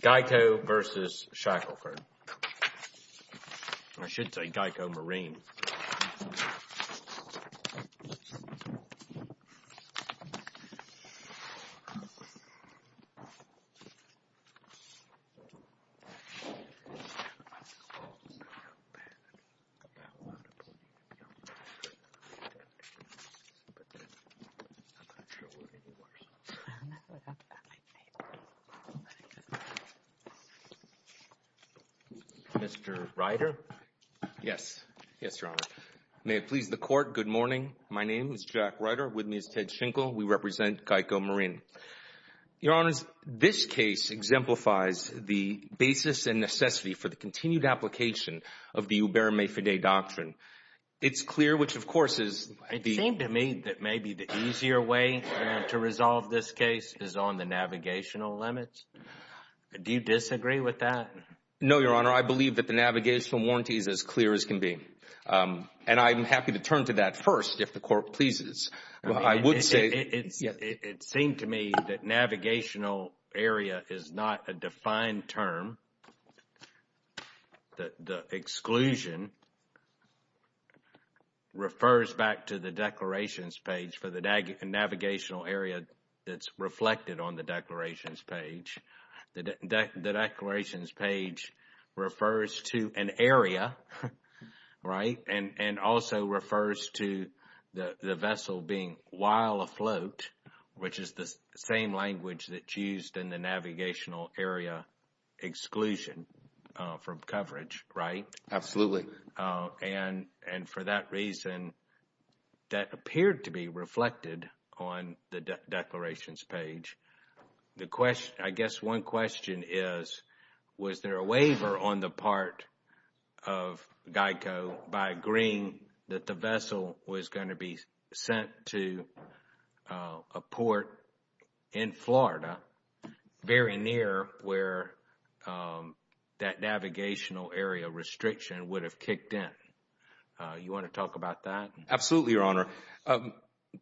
Geico v. Shackleford I should say Geico Marine Mr. Reiter. Yes. Yes, Your Honor. May it please the Court, good morning. My name is Jack Reiter. With me is Ted Schenkel. We represent Geico Marine. Your Honors, this case exemplifies the basis and necessity for the continued application of the Ubermae Fidei Doctrine. It's clear, which of course is the It seems to me that maybe the easier way to resolve this case is on the navigational limits. Do you disagree with that? No, Your Honor. I believe that the navigational warranty is as clear as can be. And I'm happy to turn to that first if the Court pleases. I would say It seems to me that navigational area is not a defined term. The exclusion refers back to the declarations page for the navigational area that's reflected on the declarations page. The declarations page refers to an area, right? And also refers to the vessel being while afloat, which is the same language that's used in the navigational area exclusion from coverage, right? Absolutely. And for that reason, that appeared to be reflected on the declarations page. I guess one question is, was there a waiver on the part of GEICO by agreeing that the vessel was going to be sent to a port in Florida very near where that navigational area restriction would have kicked in? You want to talk about that? Absolutely, Your Honor.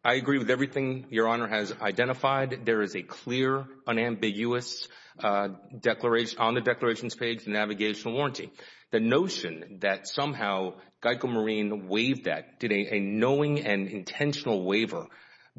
I agree with everything Your Honor has identified. There is a clear, unambiguous, on the declarations page, navigational warranty. The notion that somehow GEICO Marine waived that, did a knowing and intentional waiver,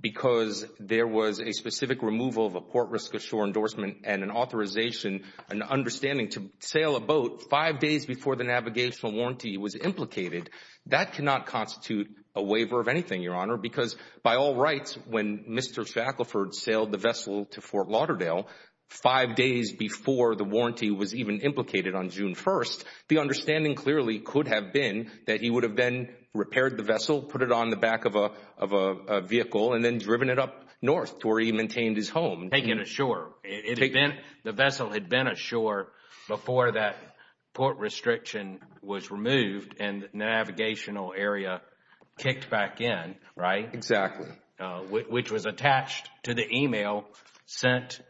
because there was a specific removal of a port risk of shore endorsement and an authorization, an understanding to sail a boat five days before the navigational warranty was implicated, that cannot constitute a waiver of anything, Your Honor. Because by all rights, when Mr. Shackelford sailed the vessel to Fort Lauderdale, five days before the warranty was even implicated on June 1st, the understanding clearly could have been that he would have then repaired the vessel, put it on the back of a vehicle, and then driven it up north to where he maintained his home. Taken ashore. The vessel had been ashore before that port restriction was removed and the navigational area kicked back in, right? Exactly. Which was attached to the email sent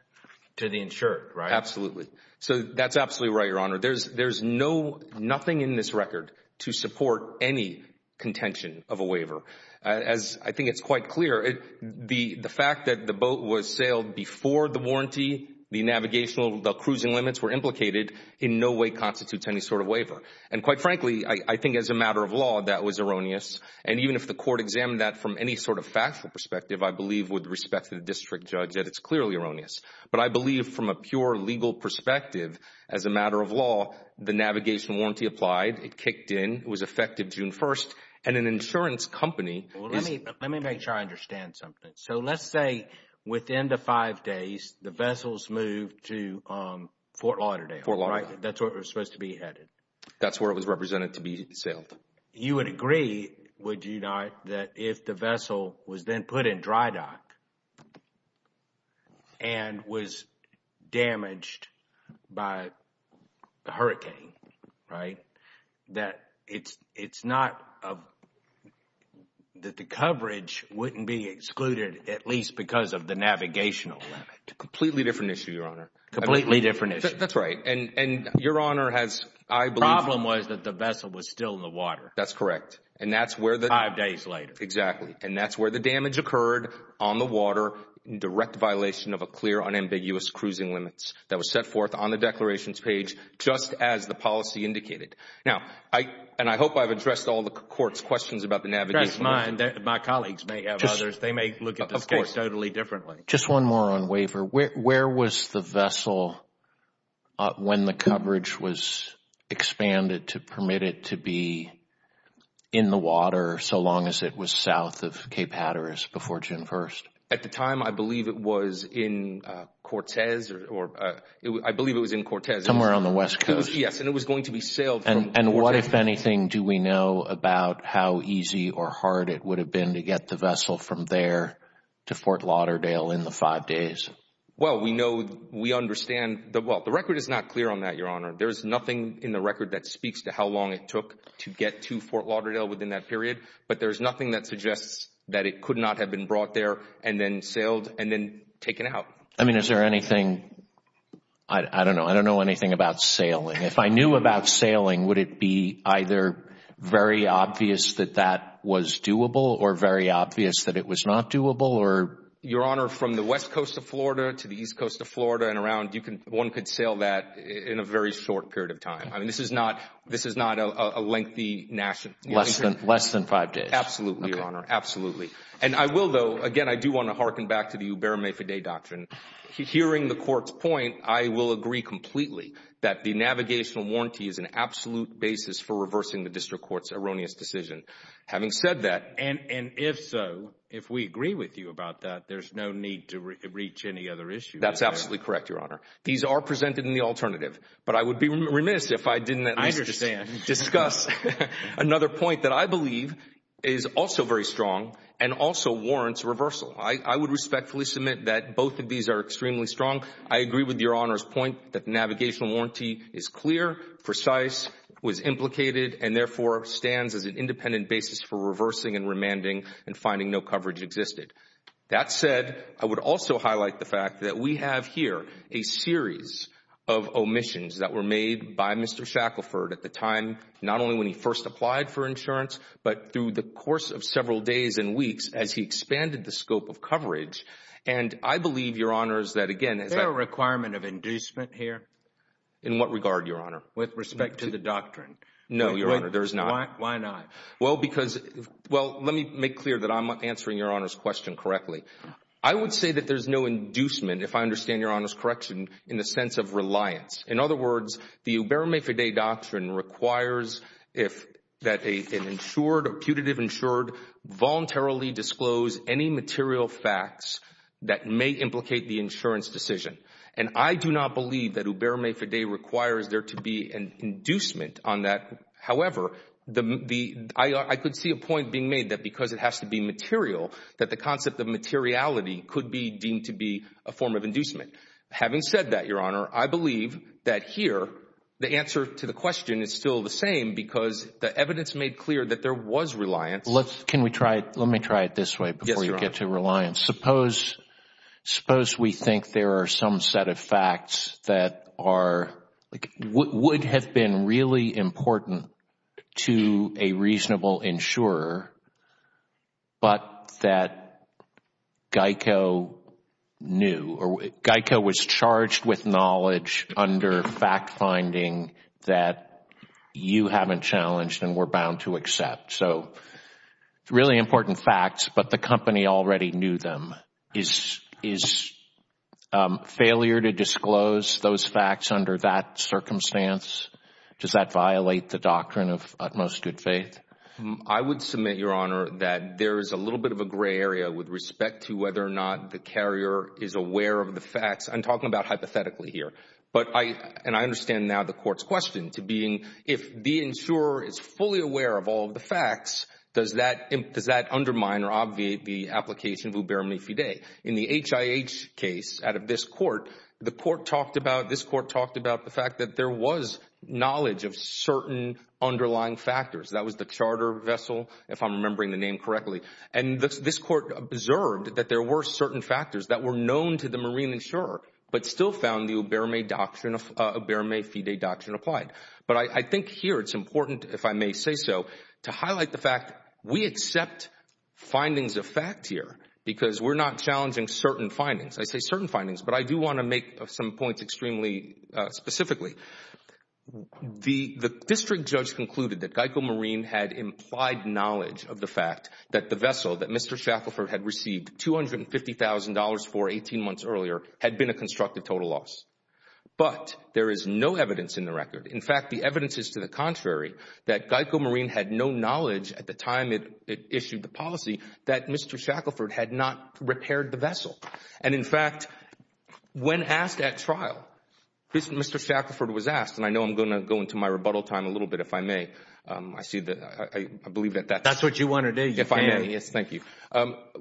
to the insured, right? Absolutely. So that's absolutely right, Your Honor. There's nothing in this record to support any contention of a waiver. As I think it's quite clear, the fact that the boat was sailed before the warranty, the navigational, the cruising limits were implicated, in no way constitutes any sort of waiver. And quite frankly, I think as a matter of law, that was erroneous. And even if the court examined that from any sort of factual perspective, I believe with respect to the district judge that it's clearly erroneous. But I believe from a pure legal perspective, as a matter of law, the navigation warranty applied, it kicked in, it was effective June 1st, and an insurance company is— Let me make sure I understand something. So let's say within the five days, the vessels moved to Fort Lauderdale, right? Fort Lauderdale. That's where it was supposed to be headed. That's where it was represented to be sailed. You would agree, would you not, that if the vessel was then put in dry dock and was damaged by a hurricane, right? That it's not—that the coverage wouldn't be excluded at least because of the navigational limit. Completely different issue, Your Honor. Completely different issue. That's right. And Your Honor has, I believe— The problem was that the vessel was still in the water. That's correct. And that's where the— Five days later. Exactly. And that's where the damage occurred on the water in direct violation of a clear, unambiguous cruising limits that was set forth on the declarations page just as the policy indicated. Now, and I hope I've addressed all the Court's questions about the navigational limit. That's fine. My colleagues may have others. They may look at this case totally differently. Of course. Just one more on waiver. Where was the vessel when the coverage was expanded to permit it to be in the water so long as it was south of Cape Hatteras before June 1st? At the time, I believe it was in Cortez or—I believe it was in Cortez. Somewhere on the west coast. Yes. And it was going to be sailed from Cortez. And what, if anything, do we know about how easy or hard it would have been to get the vessel from there to Fort Lauderdale in the five days? Well, we know—we understand—well, the record is not clear on that, Your Honor. There's nothing in the record that speaks to how long it took to get to Fort Lauderdale within that period. But there's nothing that suggests that it could not have been brought there and then sailed and then taken out. I mean, is there anything—I don't know. I don't know anything about sailing. If I knew about sailing, would it be either very obvious that that was doable or very obvious that it was not doable? Your Honor, from the west coast of Florida to the east coast of Florida and around, one could sail that in a very short period of time. I mean, this is not a lengthy— Less than five days. Absolutely, Your Honor. Absolutely. And I will, though—again, I do want to hearken back to the Huberme Fidei Doctrine. Hearing the court's point, I will agree completely that the navigational warranty is an absolute basis for reversing the district court's erroneous decision. Having said that— And if so, if we agree with you about that, there's no need to reach any other issue. That's absolutely correct, Your Honor. These are presented in the alternative. But I would be remiss if I didn't at least— I understand. —discuss another point that I believe is also very strong and also warrants reversal. I would respectfully submit that both of these are extremely strong. I agree with Your Honor's point that the navigational warranty is clear, precise, was implicated, and therefore stands as an independent basis for reversing and remanding and finding no coverage existed. That said, I would also highlight the fact that we have here a series of omissions that were made by Mr. Shackelford at the time not only when he first applied for insurance but through the course of several days and weeks as he expanded the scope of coverage. And I believe, Your Honors, that again— Is there a requirement of inducement here? In what regard, Your Honor? With respect to the doctrine. No, Your Honor, there is not. Why not? Well, because—well, let me make clear that I'm answering Your Honor's question correctly. I would say that there's no inducement, if I understand Your Honor's correction, in the sense of reliance. In other words, the Uberma-Fidei doctrine requires that an insured or putative insured voluntarily disclose any material facts that may implicate the insurance decision. And I do not believe that Uberma-Fidei requires there to be an inducement on that. However, I could see a point being made that because it has to be material, that the concept of materiality could be deemed to be a form of inducement. Having said that, Your Honor, I believe that here the answer to the question is still the same because the evidence made clear that there was reliance. Let's—can we try—let me try it this way before you get to reliance. Yes, Your Honor. Suppose we think there are some set of facts that are—would have been really important to a reasonable insurer, but that Geico knew or Geico was charged with knowledge under fact-finding that you haven't challenged and were bound to accept. So really important facts, but the company already knew them. Is failure to disclose those facts under that circumstance, does that violate the doctrine of utmost good faith? I would submit, Your Honor, that there is a little bit of a gray area with respect to whether or not the carrier is aware of the facts. I'm talking about hypothetically here. But I—and I understand now the court's question to being if the insurer is fully aware of all of the facts, does that undermine or obviate the application of Uberma-Fidei? In the HIH case out of this court, the court talked about—this court talked about the fact that there was knowledge of certain underlying factors. That was the charter vessel, if I'm remembering the name correctly. And this court observed that there were certain factors that were known to the marine insurer, but still found the Uberma-Fidei doctrine applied. But I think here it's important, if I may say so, to highlight the fact we accept findings of fact here because we're not challenging certain findings. I say certain findings, but I do want to make some points extremely specifically. The district judge concluded that Geico Marine had implied knowledge of the fact that the vessel that Mr. Shackelford had received $250,000 for 18 months earlier had been a constructive total loss. But there is no evidence in the record. In fact, the evidence is to the contrary, that Geico Marine had no knowledge at the time it issued the policy that Mr. Shackelford had not repaired the vessel. And, in fact, when asked at trial, Mr. Shackelford was asked—and I know I'm going to go into my rebuttal time a little bit, if I may. I see that—I believe that that's— That's what you want to do. If I may. Yes, thank you.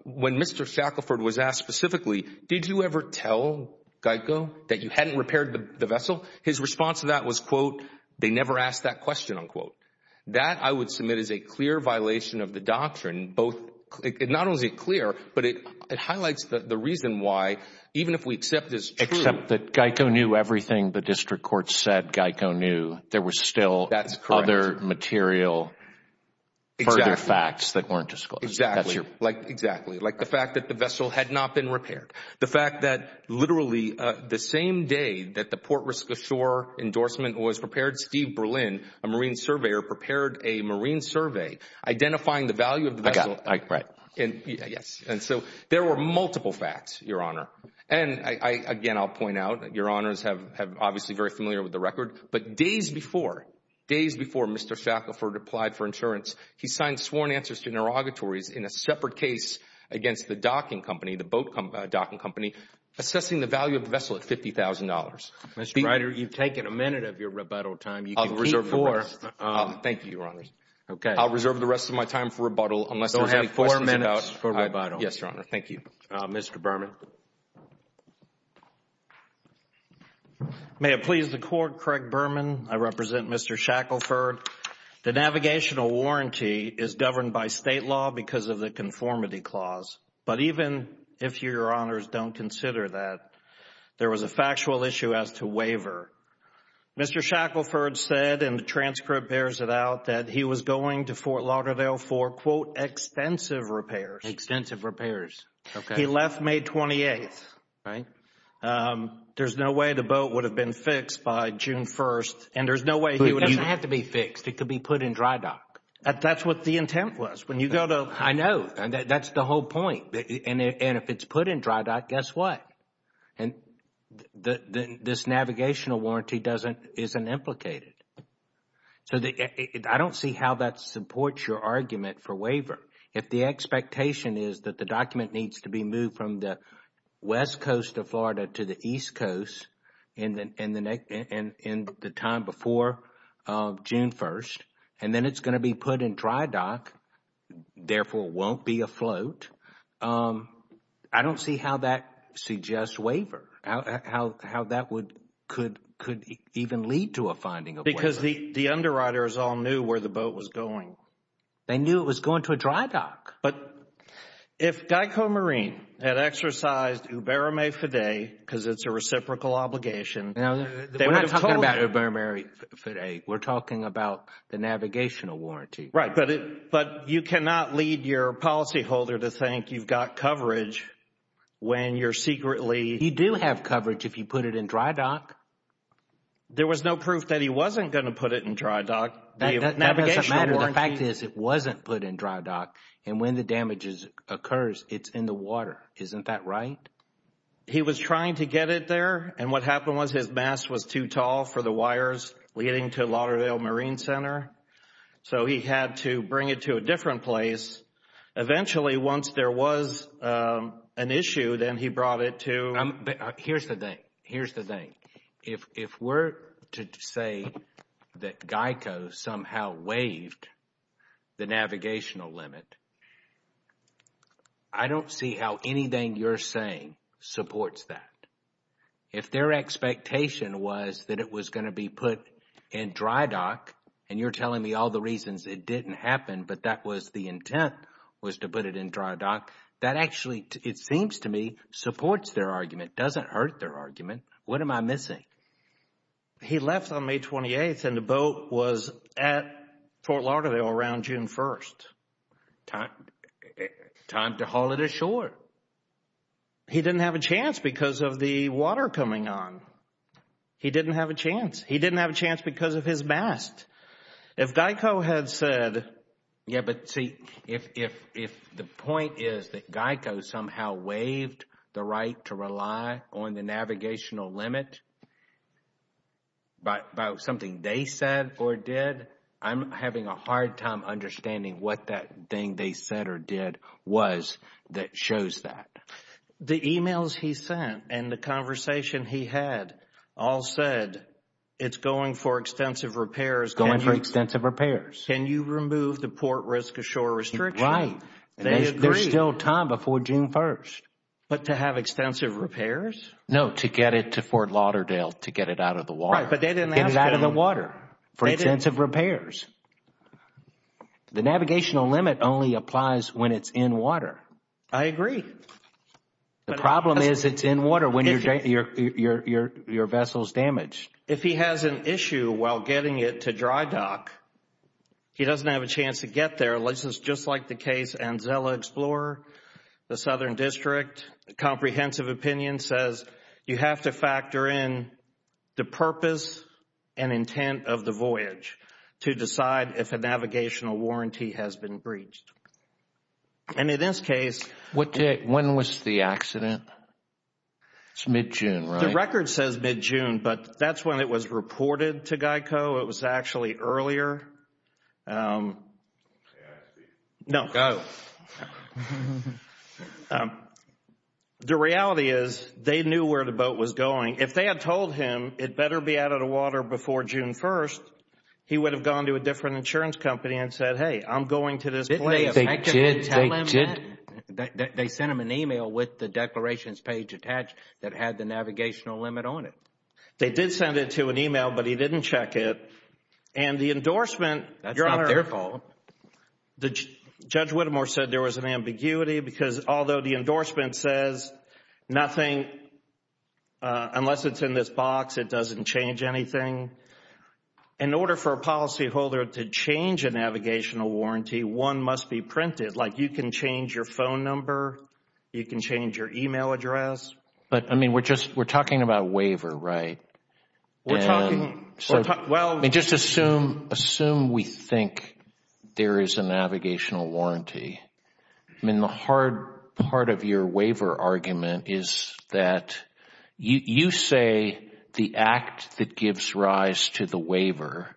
When Mr. Shackelford was asked specifically, did you ever tell Geico that you hadn't repaired the vessel, his response to that was, quote, they never asked that question, unquote. That, I would submit, is a clear violation of the doctrine. Both—not only is it clear, but it highlights the reason why, even if we accept it's true— Except that Geico knew everything the district court said Geico knew. There was still other material, further facts that weren't disclosed. Exactly. That's your point. Exactly. Like the fact that the vessel had not been repaired. The fact that, literally, the same day that the port risk ashore endorsement was prepared, Steve Berlin, a marine surveyor, prepared a marine survey identifying the value of the vessel. I got it. Right. Yes. And so, there were multiple facts, Your Honor. And, again, I'll point out, Your Honors are obviously very familiar with the record, but days before, days before Mr. Shackelford applied for insurance, he signed sworn answers to interrogatories in a separate case against the docking company, the boat docking company, assessing the value of the vessel at $50,000. Mr. Ryder, you've taken a minute of your rebuttal time. You can keep four. Thank you, Your Honors. Okay. I'll reserve the rest of my time for rebuttal unless there's any questions about— You'll have four minutes for rebuttal. Yes, Your Honor. Thank you. Mr. Berman. May it please the Court, Craig Berman. I represent Mr. Shackelford. The navigational warranty is governed by State law because of the conformity clause. But even if you, Your Honors, don't consider that, there was a factual issue as to waiver. Mr. Shackelford said, and the transcript bears it out, that he was going to Fort Lauderdale for, quote, extensive repairs. Extensive repairs. Okay. He left May 28th. Right. There's no way the boat would have been fixed by June 1st, and there's no way he would have— It doesn't have to be fixed. It could be put in dry dock. That's what the intent was. When you go to— I know. That's the whole point. And if it's put in dry dock, guess what? This navigational warranty isn't implicated. I don't see how that supports your argument for waiver. If the expectation is that the document needs to be moved from the west coast of Florida to the east coast in the time before June 1st, and then it's going to be put in dry dock, therefore won't be afloat, I don't see how that suggests waiver. How that could even lead to a finding of waiver. Because the underwriters all knew where the boat was going. They knew it was going to a dry dock. But if Geico Marine had exercised Uberame Fidei, because it's a reciprocal obligation— We're not talking about Uberame Fidei. We're talking about the navigational warranty. Right. But you cannot lead your policyholder to think you've got coverage when you're secretly— You do have coverage if you put it in dry dock. There was no proof that he wasn't going to put it in dry dock. That doesn't matter. The fact is it wasn't put in dry dock. And when the damage occurs, it's in the water. Isn't that right? He was trying to get it there. And what happened was his mast was too tall for the wires leading to Lauderdale Marine Center. So he had to bring it to a different place. Eventually, once there was an issue, then he brought it to— Here's the thing. Here's the thing. If we're to say that Geico somehow waived the navigational limit, I don't see how anything you're saying supports that. If their expectation was that it was going to be put in dry dock, and you're telling me all the reasons it didn't happen, but that was the intent, was to put it in dry dock, that actually, it seems to me, supports their argument, doesn't hurt their argument. What am I missing? He left on May 28th, and the boat was at Fort Lauderdale around June 1st. Time to haul it ashore. He didn't have a chance because of the water coming on. He didn't have a chance. He didn't have a chance because of his mast. If Geico had said— Yes, but see, if the point is that Geico somehow waived the right to rely on the navigational limit about something they said or did, I'm having a hard time understanding what that thing they said or did was that shows that. The emails he sent and the conversation he had all said, it's going for extensive repairs. Going for extensive repairs. Can you remove the port risk ashore restriction? Right. There's still time before June 1st. But to have extensive repairs? No, to get it to Fort Lauderdale, to get it out of the water. Right, but they didn't ask him— Get it out of the water for extensive repairs. The navigational limit only applies when it's in water. I agree. The problem is it's in water when your vessel is damaged. If he has an issue while getting it to dry dock, he doesn't have a chance to get there. This is just like the case Anzella Explorer, the Southern District. Comprehensive opinion says you have to factor in the purpose and intent of the voyage to decide if a navigational warranty has been breached. And in this case— When was the accident? It's mid-June, right? The record says mid-June, but that's when it was reported to GEICO. It was actually earlier. Go. The reality is they knew where the boat was going. If they had told him it better be out of the water before June 1st, he would have gone to a different insurance company and said, hey, I'm going to this place. Didn't they effectively tell him that? They sent him an email with the declarations page attached that had the navigational limit on it. They did send it to an email, but he didn't check it. And the endorsement— That's not their fault. Judge Whittemore said there was an ambiguity because although the endorsement says nothing, unless it's in this box, it doesn't change anything. In order for a policyholder to change a navigational warranty, one must be printed. Like, you can change your phone number. You can change your email address. But, I mean, we're talking about waiver, right? We're talking— Just assume we think there is a navigational warranty. I mean, the hard part of your waiver argument is that you say the act that gives rise to the waiver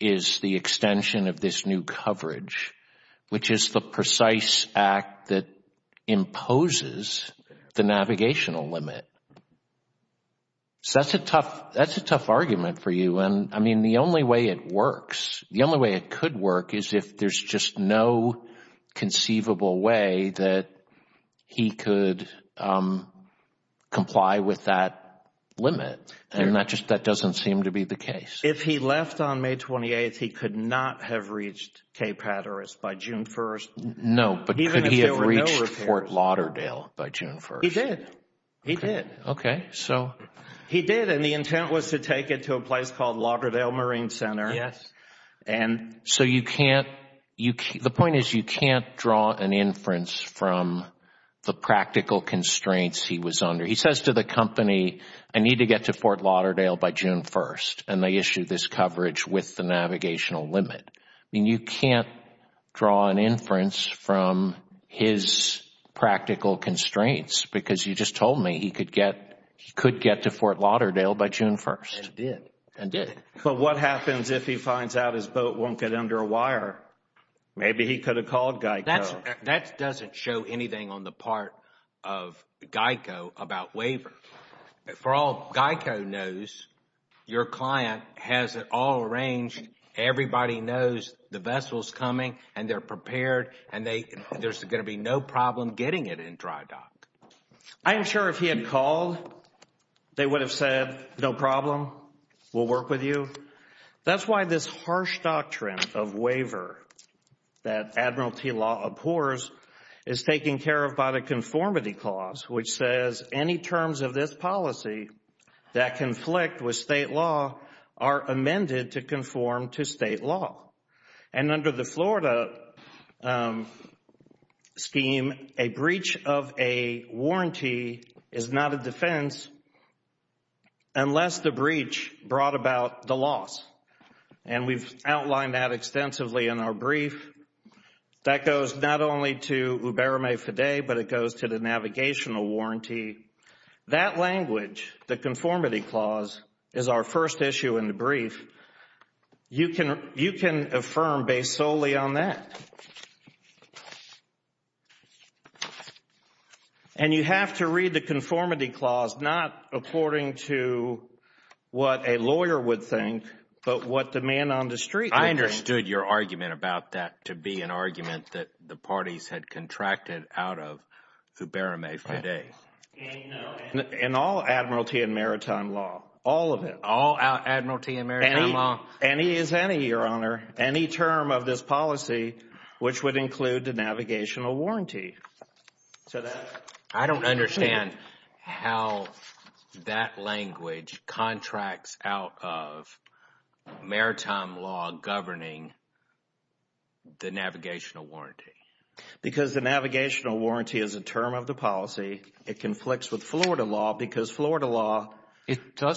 is the extension of this new coverage, which is the precise act that imposes the navigational limit. So that's a tough argument for you. And, I mean, the only way it works, the only way it could work, is if there's just no conceivable way that he could comply with that limit. If he left on May 28th, he could not have reached Cape Hatteras by June 1st. No, but could he have reached Fort Lauderdale by June 1st? He did. He did. Okay, so— He did, and the intent was to take it to a place called Lauderdale Marine Center. Yes. And— So you can't—the point is you can't draw an inference from the practical constraints he was under. He says to the company, I need to get to Fort Lauderdale by June 1st, and they issue this coverage with the navigational limit. I mean, you can't draw an inference from his practical constraints, because you just told me he could get to Fort Lauderdale by June 1st. And did. And did. But what happens if he finds out his boat won't get under a wire? Maybe he could have called GEICO. That doesn't show anything on the part of GEICO about waiver. For all GEICO knows, your client has it all arranged. Everybody knows the vessel's coming, and they're prepared, and there's going to be no problem getting it in dry dock. I'm sure if he had called, they would have said, no problem, we'll work with you. That's why this harsh doctrine of waiver that Admiralty law abhors is taken care of by the conformity clause, which says any terms of this policy that conflict with state law are amended to conform to state law. And under the Florida scheme, a breach of a warranty is not a defense unless the breach brought about the loss. And we've outlined that extensively in our brief. That goes not only to Uberame FIDE, but it goes to the navigational warranty. That language, the conformity clause, is our first issue in the brief. You can affirm based solely on that. And you have to read the conformity clause not according to what a lawyer would think, but what the man on the street would think. I understood your argument about that to be an argument that the parties had contracted out of Uberame FIDE. And all Admiralty and Maritime law, all of it. All Admiralty and Maritime law. Any is any, Your Honor. Any term of this policy, which would include the navigational warranty. I don't understand how that language contracts out of Maritime law governing the navigational warranty. Because the navigational warranty is a term of the policy. It conflicts with Florida law because Florida law. The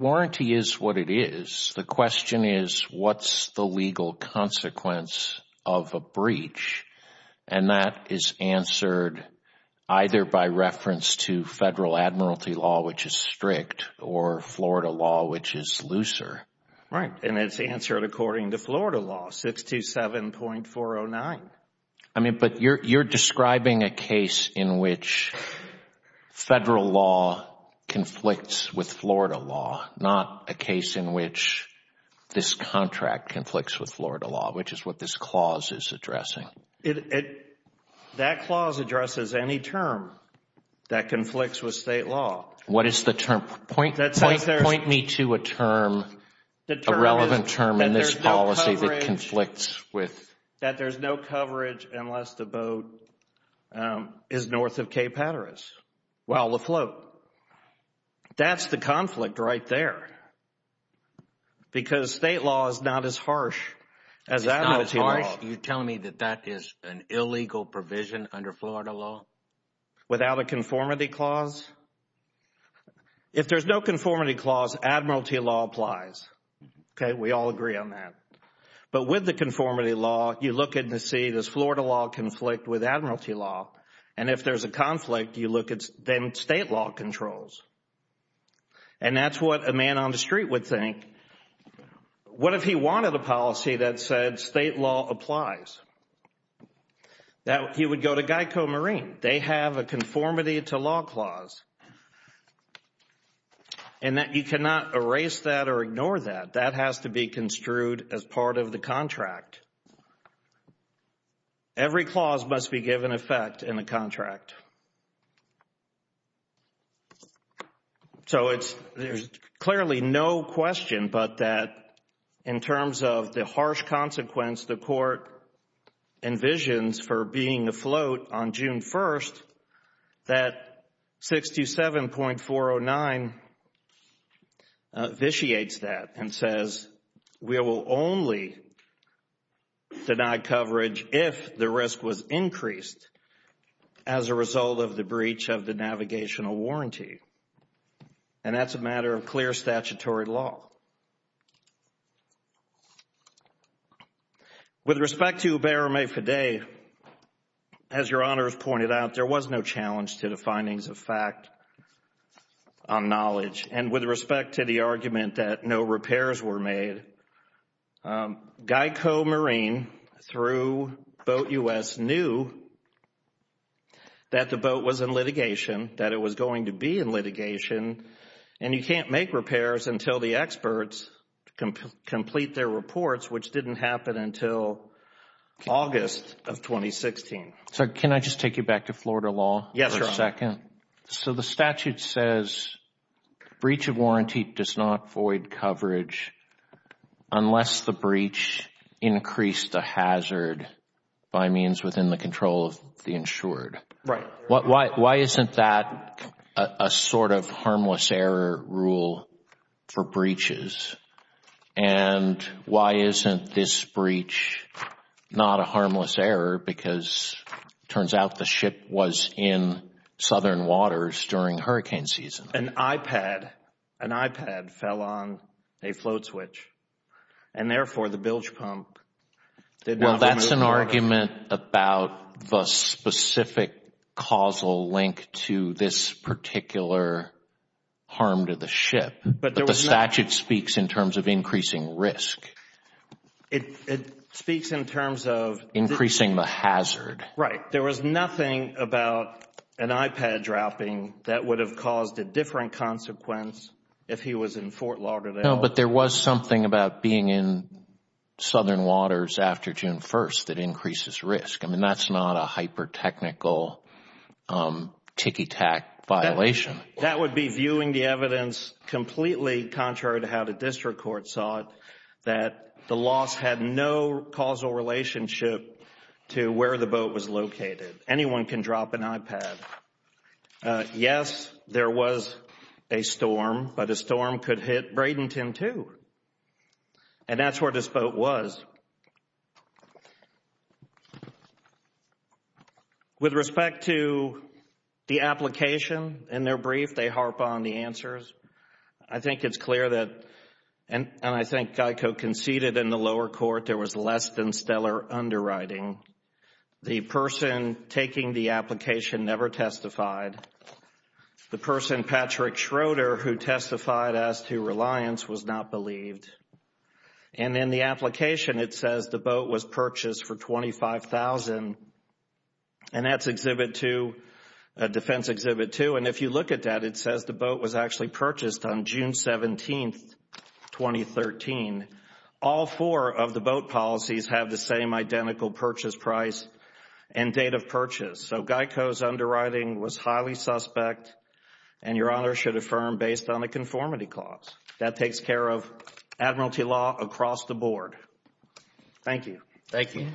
warranty is what it is. The question is, what's the legal consequence of a breach? And that is answered either by reference to Federal Admiralty law, which is strict, or Florida law, which is looser. Right. And it's answered according to Florida law, 627.409. I mean, but you're describing a case in which Federal law conflicts with Florida law. Not a case in which this contract conflicts with Florida law, which is what this clause is addressing. That clause addresses any term that conflicts with State law. What is the term? Point me to a term, a relevant term in this policy that conflicts with. That there's no coverage unless the boat is north of Cape Hatteras while afloat. That's the conflict right there. Because State law is not as harsh as Admiralty law. You're telling me that that is an illegal provision under Florida law? Without a conformity clause? If there's no conformity clause, Admiralty law applies. Okay, we all agree on that. But with the conformity law, you look in to see this Florida law conflict with Admiralty law. And if there's a conflict, you look at then State law controls. And that's what a man on the street would think. What if he wanted a policy that said State law applies? He would go to Geico Marine. They have a conformity to law clause. And you cannot erase that or ignore that. That has to be construed as part of the contract. Every clause must be given effect in the contract. So there's clearly no question but that in terms of the harsh consequence the court envisions for being afloat on June 1st, that 627.409 vitiates that and says we will only deny coverage if the risk was increased. As a result of the breach of the navigational warranty. And that's a matter of clear statutory law. With respect to Uberame Fidei, as your honors pointed out, there was no challenge to the findings of fact on knowledge. And with respect to the argument that no repairs were made, Geico Marine through Boat U.S. knew that the boat was in litigation. That it was going to be in litigation. And you can't make repairs until the experts complete their reports, which didn't happen until August of 2016. So can I just take you back to Florida law for a second? Yeah. So the statute says breach of warranty does not void coverage unless the breach increased a hazard by means within the control of the insured. Right. Why isn't that a sort of harmless error rule for breaches? And why isn't this breach not a harmless error? Because it turns out the ship was in southern waters during hurricane season. An iPad, an iPad fell on a float switch. And therefore the bilge pump. Well, that's an argument about the specific causal link to this particular harm to the ship. But the statute speaks in terms of increasing risk. It speaks in terms of increasing the hazard. Right. There was nothing about an iPad dropping that would have caused a different consequence if he was in Fort Lauderdale. No, but there was something about being in southern waters after June 1st that increases risk. I mean, that's not a hyper technical tick attack violation. That would be viewing the evidence completely contrary to how the district court saw it, that the loss had no causal relationship to where the boat was located. Anyone can drop an iPad. Yes, there was a storm, but a storm could hit Bradenton, too. And that's where this boat was. With respect to the application in their brief, they harp on the answers. I think it's clear that, and I think GEICO conceded in the lower court, there was less than stellar underwriting. The person taking the application never testified. The person, Patrick Schroeder, who testified as to reliance was not believed. And in the application, it says the boat was purchased for $25,000. And that's Exhibit 2, Defense Exhibit 2. And if you look at that, it says the boat was actually purchased on June 17th, 2013. All four of the boat policies have the same identical purchase price and date of purchase. So GEICO's underwriting was highly suspect and, Your Honor, should affirm based on a conformity clause. That takes care of admiralty law across the board. Thank you. Thank you.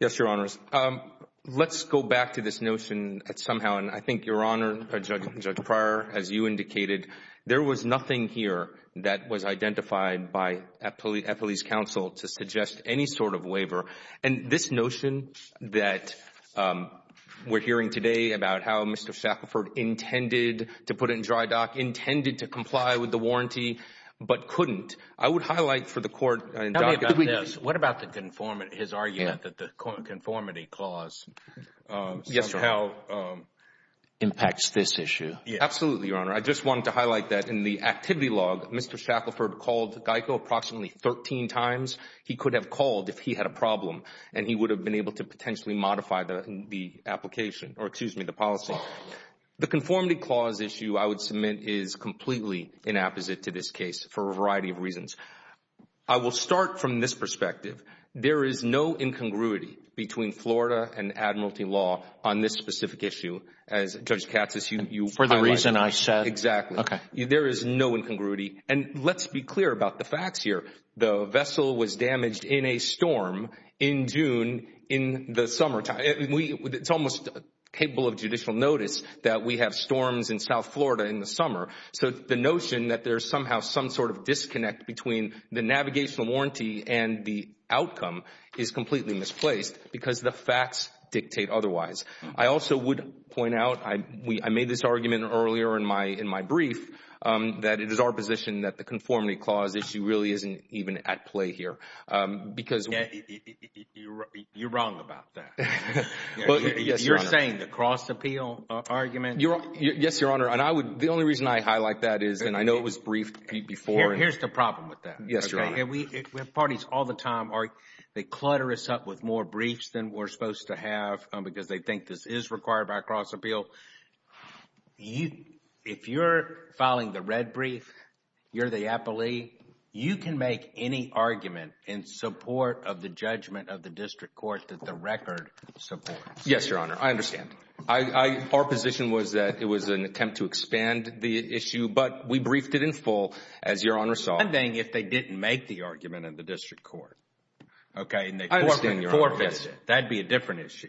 Yes, Your Honors. Let's go back to this notion that somehow, and I think, Your Honor, Judge Pryor, as you indicated, there was nothing here that was identified by Eppley's counsel to suggest any sort of waiver. And this notion that we're hearing today about how Mr. Shackelford intended to put it in dry dock, intended to comply with the warranty, but couldn't, I would highlight for the court and document this. What about the conformity, his argument that the conformity clause somehow impacts this issue? Absolutely, Your Honor. I just wanted to highlight that in the activity log, Mr. Shackelford called GEICO approximately 13 times. He could have called if he had a problem, and he would have been able to potentially modify the application, or excuse me, the policy. The conformity clause issue, I would submit, is completely inapposite to this case for a variety of reasons. I will start from this perspective. There is no incongruity between Florida and admiralty law on this specific issue. As Judge Katsas, you highlighted. For the reason I said. Exactly. Okay. There is no incongruity. And let's be clear about the facts here. The vessel was damaged in a storm in June in the summertime. It's almost capable of judicial notice that we have storms in South Florida in the summer. So the notion that there's somehow some sort of disconnect between the navigational warranty and the outcome is completely misplaced because the facts dictate otherwise. I also would point out, I made this argument earlier in my brief, that it is our position that the conformity clause issue really isn't even at play here. You're wrong about that. Yes, Your Honor. You're saying the cross-appeal argument. Yes, Your Honor. And the only reason I highlight that is, and I know it was briefed before. Here's the problem with that. Yes, Your Honor. We have parties all the time, they clutter us up with more briefs than we're supposed to have because they think this is required by cross-appeal. If you're filing the red brief, you're the appellee, you can make any argument in support of the judgment of the district court that the record supports. Yes, Your Honor. I understand. Our position was that it was an attempt to expand the issue, but we briefed it in full, as Your Honor saw fit. If they didn't make the argument in the district court, okay, and they forfeited it, that would be a different issue.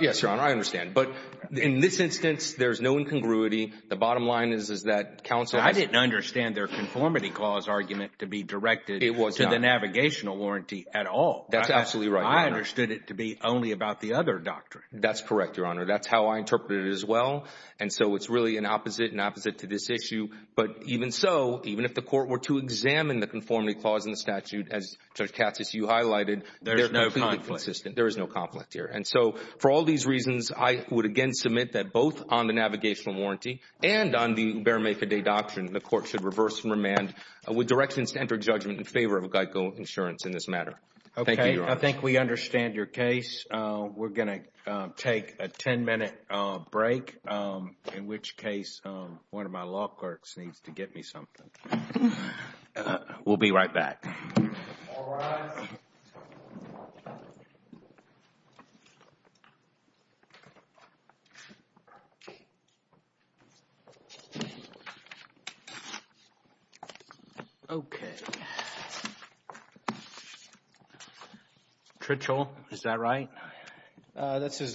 Yes, Your Honor. I understand. But in this instance, there's no incongruity. The bottom line is that counsel has— I didn't understand their conformity clause argument to be directed to the navigational warranty at all. That's absolutely right, Your Honor. I understood it to be only about the other doctrine. That's correct, Your Honor. That's how I interpreted it as well. And so it's really an opposite, an opposite to this issue. But even so, even if the court were to examine the conformity clause in the statute, as Judge Katsas, you highlighted— There's no conflict. There is no conflict here. And so for all these reasons, I would, again, submit that both on the navigational warranty and on the Ubermeca Day doctrine, the court should reverse and remand with directions to enter judgment in favor of Geico Insurance in this matter. Thank you, Your Honor. Okay, I think we understand your case. We're going to take a 10-minute break, in which case one of my law clerks needs to get me something. We'll be right back. All rise. Okay. Tritchell, is that right? That's his.